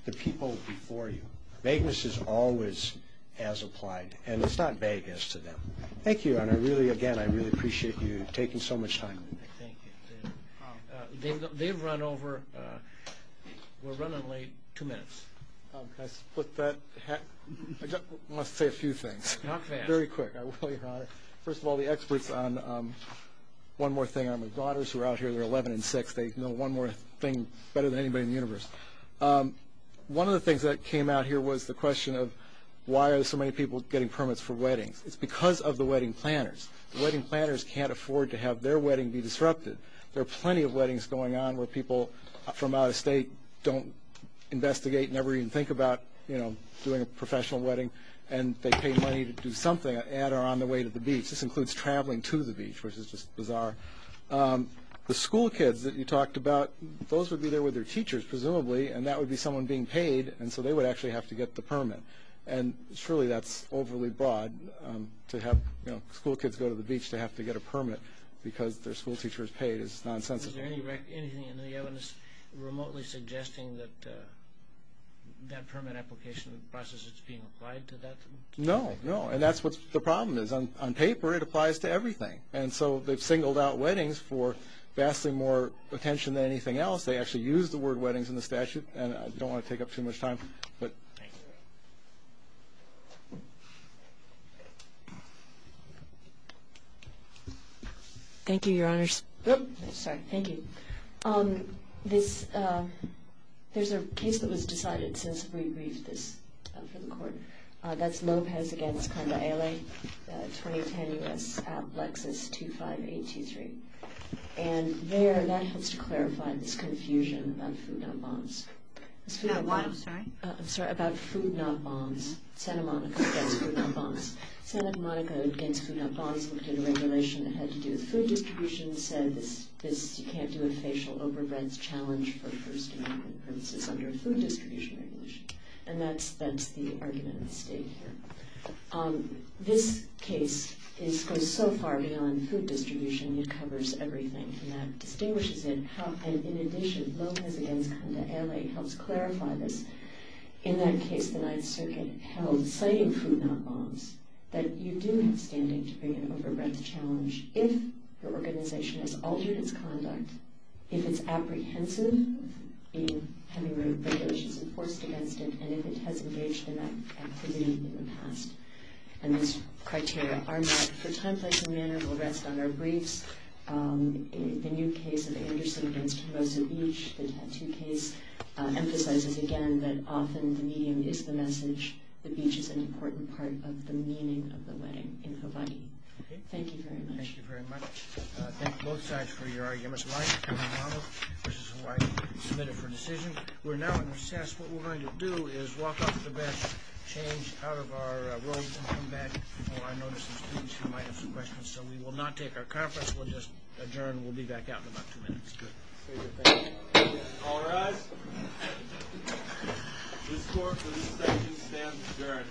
the people before you. Vagueness is always as applied, and it's not vagueness to them. Thank you, and again, I really appreciate you taking so much time with me. Thank you. They've run over. We're running late. Two minutes. Can I split that? I just want to say a few things. Not fast. Very quick. First of all, the experts on, one more thing, who are out here, they're 11 and 6. They know one more thing better than anybody in the universe. One of the things that came out here was the question of why are so many people getting permits for weddings. It's because of the wedding planners. The wedding planners can't afford to have their wedding be disrupted. There are plenty of weddings going on where people from out of state don't investigate, never even think about, you know, doing a professional wedding, and they pay money to do something on the way to the beach. This includes traveling to the beach, which is just bizarre. The school kids that you talked about, those would be there with their teachers, presumably, and that would be someone being paid, and so they would actually have to get the permit, and surely that's overly broad to have school kids go to the beach to have to get a permit because their school teacher is paid is nonsensical. Is there anything in the evidence remotely suggesting that that permit application process is being applied to that? No, no, and that's what the problem is. On paper, it applies to everything, and so they've singled out weddings for vastly more attention than anything else. They actually use the word weddings in the statute, and I don't want to take up too much time. Thank you, Your Honors. Sorry. Thank you. There's a case that was decided since we briefed this for the court. That's Lopez v. Condaele, 2010 U.S. App, Lexus 25823, and there that helps to clarify this confusion about food not bonds. About what? I'm sorry? I'm sorry, about food not bonds. Santa Monica v. Food Not Bonds. Santa Monica v. Food Not Bonds looked at a regulation that had to do with food distribution and said you can't do a facial overbreds challenge for first amendment purposes under a food distribution regulation, and that's the argument at stake here. This case goes so far beyond food distribution. It covers everything, and that distinguishes it. In addition, Lopez v. Condaele helps clarify this. In that case, the Ninth Circuit held citing food not bonds that you do have standing to bring an overbreds challenge if your organization has altered its conduct, if it's apprehensive in having regulations enforced against it, and if it has engaged in that activity in the past. And those criteria are met for time, place, and manner. We'll rest on our briefs. The new case of Anderson v. Tomoza Beach, the tattoo case, emphasizes again that often the medium is the message. The beach is an important part of the meaning of the wedding in Hawaii. Thank you very much. Thank you very much. Thank you both sides for your arguments. Mike, this is who I submitted for decision. We're now in recess. What we're going to do is walk off the bench, change out of our roles and come back. I know there's some students who might have some questions, so we will not take our conference. We'll just adjourn. We'll be back out in about two minutes. Good. Thank you. All rise. The score for this session stands adjourned.